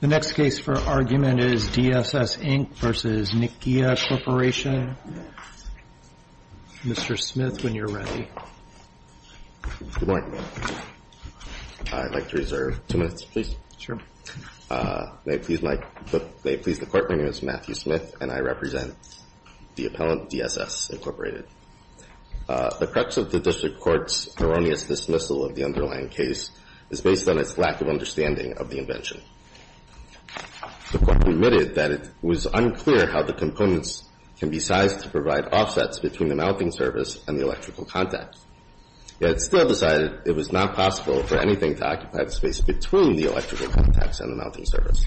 The next case for argument is DSS, Inc. v. Nichia Corporation. Mr. Smith, when you're ready. Good morning. I'd like to reserve two minutes, please. May it please the Court, my name is Matthew Smith, and I represent the appellant DSS, Incorporated. The crux of the district court's erroneous dismissal of the underlying case is based on its lack of understanding of the invention. The Court admitted that it was unclear how the components can be sized to provide offsets between the mounting service and the electrical contacts. Yet it still decided it was not possible for anything to occupy the space between the electrical contacts and the mounting service.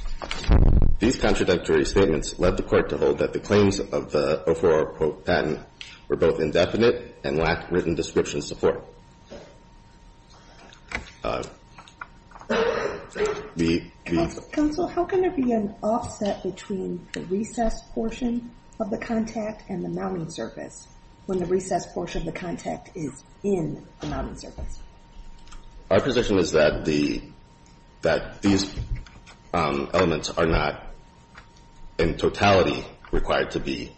These contradictory statements led the Court to hold that the claims of the O4 patent were both indefinite and lacked written description support. Counsel, how can there be an offset between the recessed portion of the contact and the mounting surface when the recessed portion of the contact is in the mounting surface? Our position is that these elements are not in totality required to be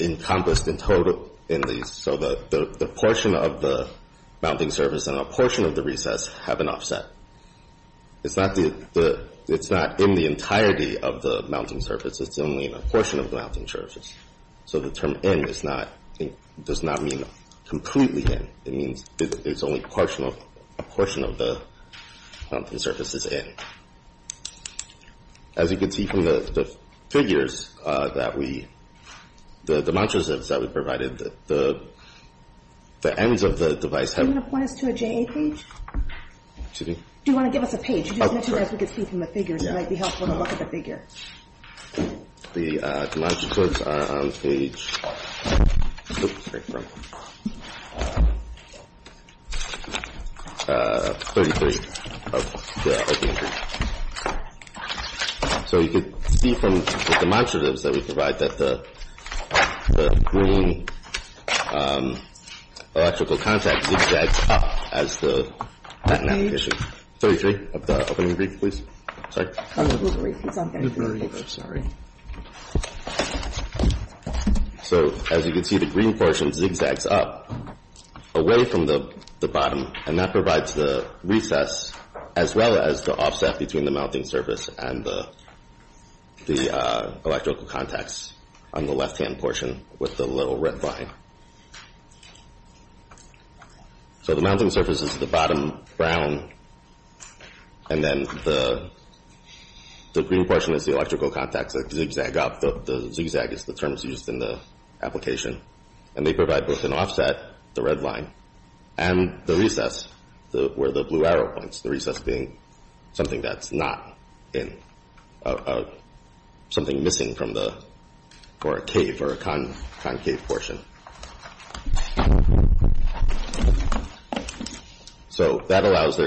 encompassed in total in these. So the portion of the mounting surface and a portion of the recess have an offset. It's not in the entirety of the mounting surface. It's only in a portion of the mounting surface. So the term in does not mean completely in. It means it's only a portion of the mounting surface is in. As you can see from the figures that we, the demonstratives that we provided, the ends of the device have Do you want to point us to a JA page? Excuse me? Do you want to give us a page? You just mentioned as we could see from the figures, it might be helpful to look at the figure. The demonstratives are on page 33 of the opening brief. So you could see from the demonstratives that we provide that the green electrical contact zigzags up as the patent application. Page 33 of the opening brief, please. Sorry? Open brief. It's on page 33. Open brief. I'm sorry. So as you can see, the green portion zigzags up away from the bottom. And that provides the recess as well as the offset between the mounting surface and the electrical contacts on the left-hand portion with the little red line. So the mounting surface is the bottom brown, and then the green portion is the electrical contacts that zigzag up. The zigzag is the term that's used in the application. And they provide both an offset, the red line, and the recess where the blue arrow points, the recess being something that's not in, something missing for a cave or a concave portion. So that allows the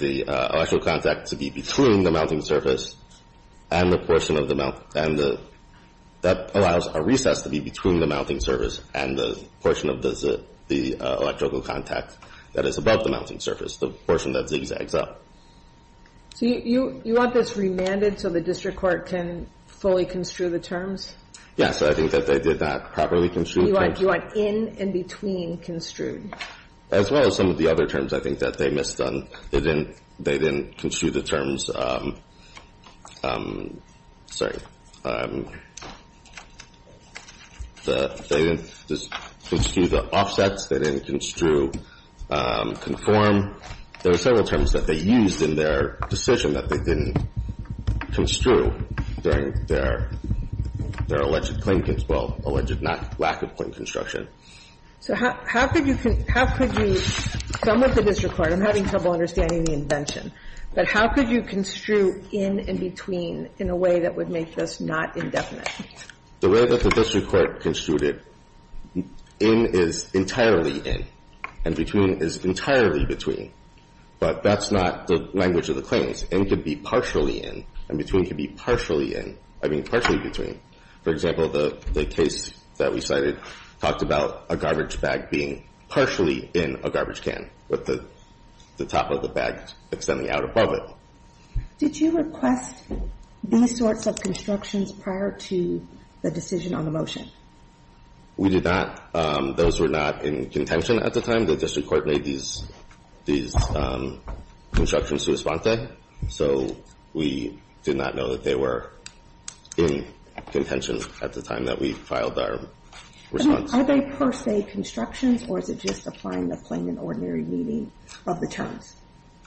electrical contact to be between the mounting surface and the portion of the mount. And that allows a recess to be between the mounting surface and the portion of the electrical contact that is above the mounting surface, the portion that zigzags up. So you want this remanded so the district court can fully construe the terms? Yes. I think that they did not properly construe the terms. You want in and between construed. As well as some of the other terms I think that they missed on. They didn't construe the terms. Sorry. They didn't construe the offsets. They didn't construe conform. There were several terms that they used in their decision that they didn't construe during their alleged claim, well, alleged lack of claim construction. So how could you, some of the district court, I'm having trouble understanding the invention, but how could you construe in and between in a way that would make this not indefinite? The way that the district court construed it, in is entirely in and between is entirely between. But that's not the language of the claims. In could be partially in and between could be partially in, I mean, partially between. For example, the case that we cited talked about a garbage bag being partially in a garbage can with the top of the bag extending out above it. Did you request any sorts of constructions prior to the decision on the motion? We did not. Those were not in contention at the time. The district court made these constructions to respond to. So we did not know that they were in contention at the time that we filed our response. Are they per se constructions or is it just applying the plain and ordinary meaning of the terms?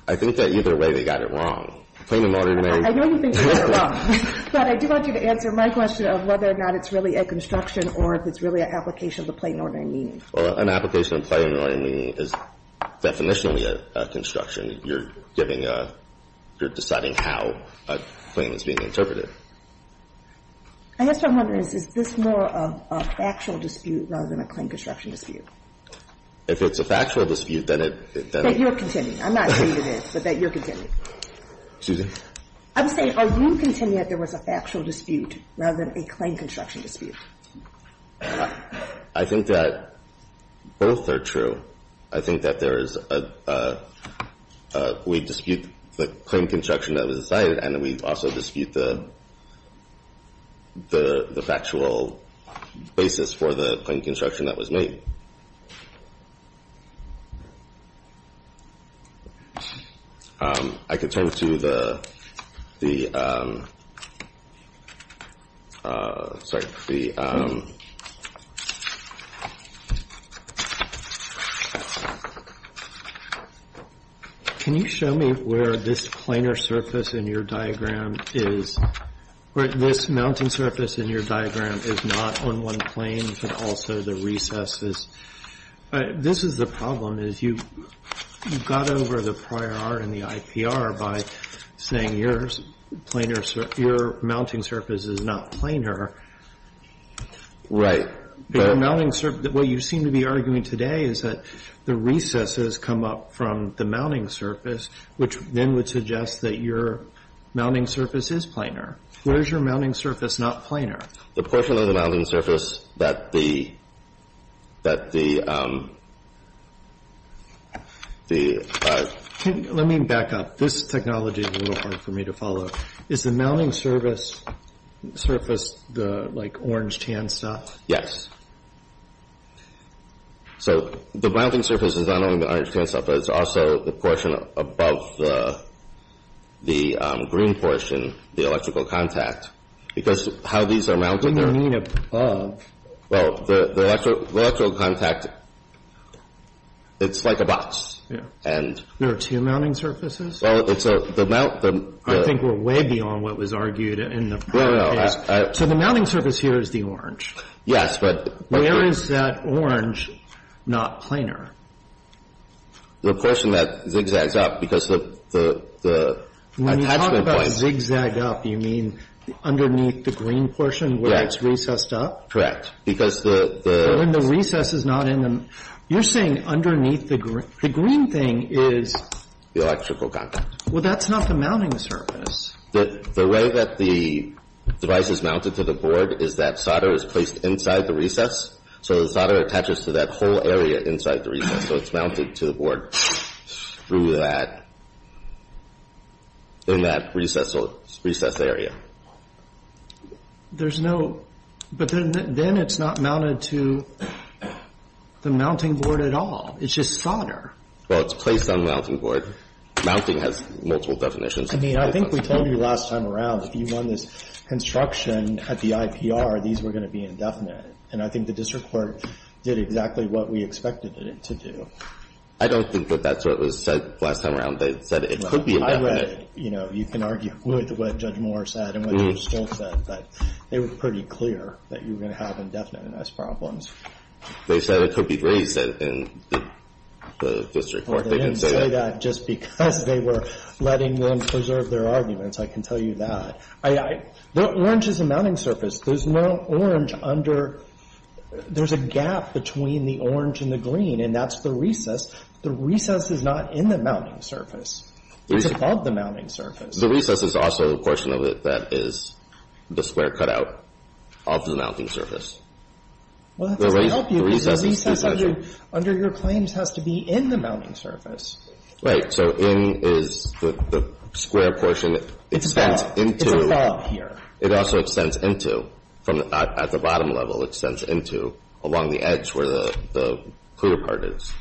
I think that either way they got it wrong. Plain and ordinary meaning. I know you think they got it wrong. But I do want you to answer my question of whether or not it's really a construction or if it's really an application of the plain and ordinary meaning. An application of plain and ordinary meaning is definitionally a construction. You're giving a – you're deciding how a claim is being interpreted. I guess what I'm wondering is, is this more of a factual dispute rather than a claim construction dispute? If it's a factual dispute, then it – That you're contending. I'm not saying it is, but that you're contending. Excuse me? I'm saying are you contending that there was a factual dispute rather than a claim construction dispute? I think that both are true. I think that there is a – we dispute the claim construction that was decided and we also dispute the factual basis for the claim construction that was made. I can turn to the – sorry, the – can you show me where this planar surface in your diagram is – where this mounting surface in your diagram is not on one plane, but also the recesses. This is the problem, is you've got over the prior art in the IPR by saying your planar – your mounting surface is not planar. But your mounting – what you seem to be arguing today is that the recesses come up from the mounting surface, which then would suggest that your mounting surface is planar. Where is your mounting surface not planar? The portion of the mounting surface that the – that the – the – Let me back up. This technology is a little hard for me to follow. Is the mounting surface the, like, orange tan stuff? Yes. So the mounting surface is not only the orange tan stuff, but it's also the portion above. Well, the electrical contact, it's like a box. There are two mounting surfaces? Well, it's a – the mount – I think we're way beyond what was argued in the prior case. So the mounting surface here is the orange? Yes, but – Where is that orange not planar? The portion that zigzags up, because the attachment point – Where it's recessed up? Because the – When the recess is not in the – you're saying underneath the green thing is – The electrical contact. Well, that's not the mounting surface. The way that the device is mounted to the board is that solder is placed inside the recess. So the solder attaches to that whole area inside the recess. So it's mounted to the board through that – in that recess area. There's no – but then it's not mounted to the mounting board at all. It's just solder. Well, it's placed on the mounting board. Mounting has multiple definitions. I mean, I think we told you last time around, if you run this construction at the IPR, these were going to be indefinite. And I think the district court did exactly what we expected it to do. I don't think that that's what was said last time around. They said it could be indefinite. You can argue with what Judge Moore said and what Judge Stoltz said, but they were pretty clear that you were going to have indefinite unless problems. They said it could be raised, and the district court didn't say that. They didn't say that just because they were letting them preserve their arguments. I can tell you that. The orange is the mounting surface. There's no orange under – there's a gap between the orange and the green, and that's the recess. The recess is not in the mounting surface. It's above the mounting surface. The recess is also a portion of it that is the square cutout off the mounting surface. Well, that doesn't help you because the recess under your claims has to be in the mounting surface. Right. So in is the square portion. It's above. It's above here. It also extends into. At the bottom level, it extends into along the edge where the clear part is.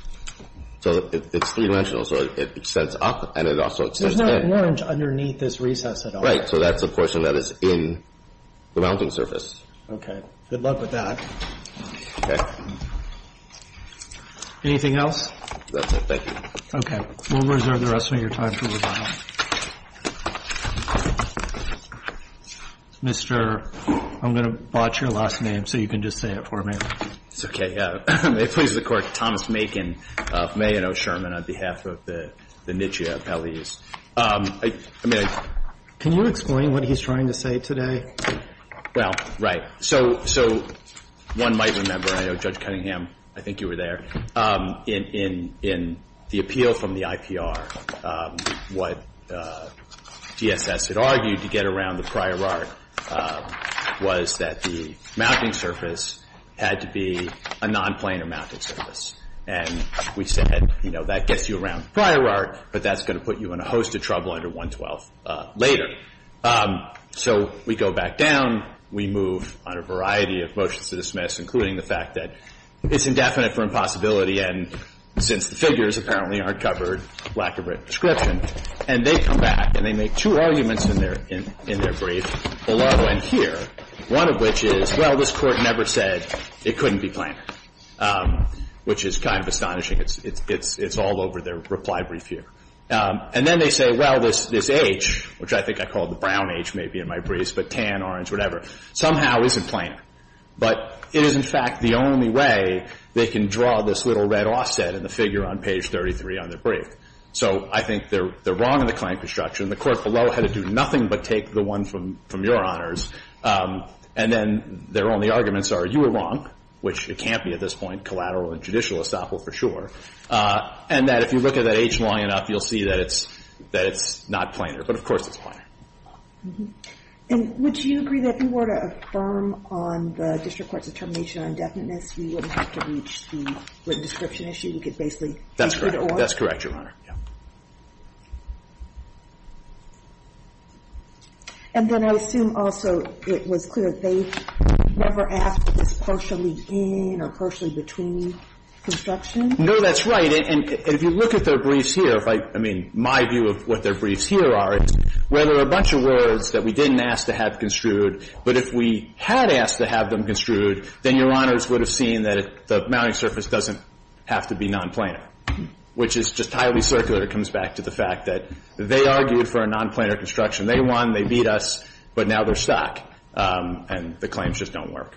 So it's three-dimensional, so it extends up and it also extends in. There's no orange underneath this recess at all. Right. So that's the portion that is in the mounting surface. Okay. Good luck with that. Okay. Anything else? That's it. Thank you. Okay. We'll reserve the rest of your time for review. Mr. – I'm going to botch your last name so you can just say it for me. It's okay. Please a court, Thomas Macon Macon from A. N. O. on behalf on the Nitsche please. Can you explain what he's trying to say today? Well, right. So one might remember, I know Judge Cunningham, I think you were there, in the appeal from the IPR, what DSS had argued to get around the prior Art, was that the mounting surface had to be a non-planar mounting surface. And we said, you know, that gets you around the prior Art, but that's going to put you in a host of trouble under 112 later. So we go back down. We move on a variety of motions to dismiss, including the fact that it's indefinite for impossibility, and since the figures apparently aren't covered, lack of a description. And they come back, and they make two arguments in their brief. One of which is, well, this Court never said it couldn't be planar, which is kind of astonishing. It's all over their reply brief here. And then they say, well, this H, which I think I call the brown H maybe in my brief, but tan, orange, whatever, somehow isn't planar. But it is, in fact, the only way they can draw this little red offset in the figure on page 33 on their brief. So I think they're wrong in the claim construction. The Court below had to do nothing but take the one from your Honors. And then their only arguments are, you were wrong, which it can't be at this point, collateral and judicial estoppel for sure. And that if you look at that H long enough, you'll see that it's not planar. But, of course, it's planar. And would you agree that if you were to affirm on the district court's determination on indefiniteness, we wouldn't have to reach the written description issue? We could basically be good or? That's correct, Your Honor. And then I assume also it was clear that they never asked if it's partially in or partially between construction? No, that's right. And if you look at their briefs here, if I – I mean, my view of what their briefs here are, is where there are a bunch of words that we didn't ask to have construed, but if we had asked to have them construed, then Your Honors would have seen that the mounting surface doesn't have to be nonplanar, which is just highly circular. It comes back to the fact that they argued for a nonplanar construction. They won. They beat us. But now they're stuck. And the claims just don't work.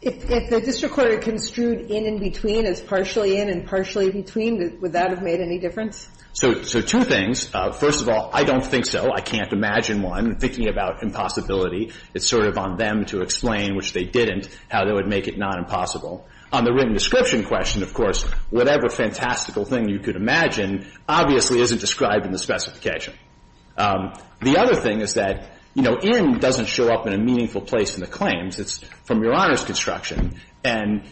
If the district court had construed in in between as partially in and partially between, would that have made any difference? So two things. First of all, I don't think so. I can't imagine one. Thinking about impossibility, it's sort of on them to explain, which they didn't, how they would make it non-impossible. On the written description question, of course, whatever fantastical thing you could imagine obviously isn't described in the specification. The other thing is that, you know, in doesn't show up in a meaningful place in the claims. It's from Your Honors' construction. And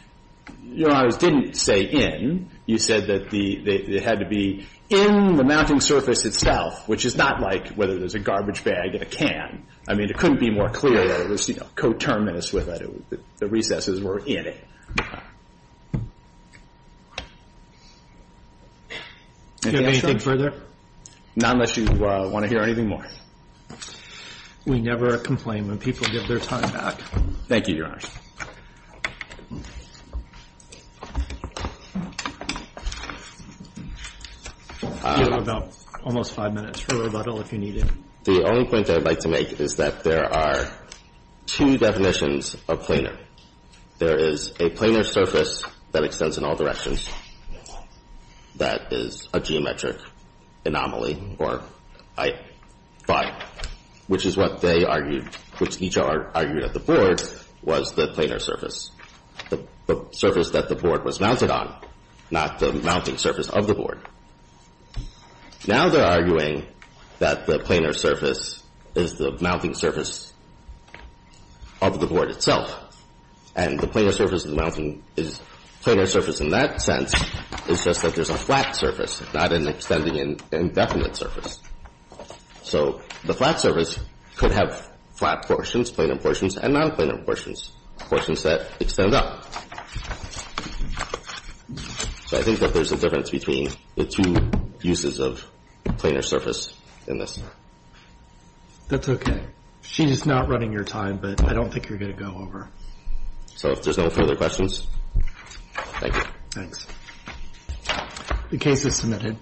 Your Honors didn't say in. You said that it had to be in the mounting surface itself, which is not like whether there's a garbage bag and a can. I mean, it couldn't be more clear. It was, you know, coterminous with it. The recesses were in it. Do you have anything further? Not unless you want to hear anything more. We never complain when people give their time back. Thank you, Your Honors. You have about almost five minutes for rebuttal if you need it. The only point I'd like to make is that there are two definitions of planar. There is a planar surface that extends in all directions, that is a geometric anomaly, or I, phi, which is what they argued, which each argued at the board, was the planar surface, the surface that the board was mounted on, not the mounting surface of the board. Now they're arguing that the planar surface is the mounting surface of the board itself, and the planar surface of the mounting is planar surface in that sense. It's just that there's a flat surface, not an extending indefinite surface. So the flat surface could have flat portions, planar portions, and non-planar portions, portions that extend up. So I think that there's a difference between the two uses of planar surface in this. That's okay. She is not running your time, but I don't think you're going to go over. So if there's no further questions, thank you. Thanks. The case is submitted.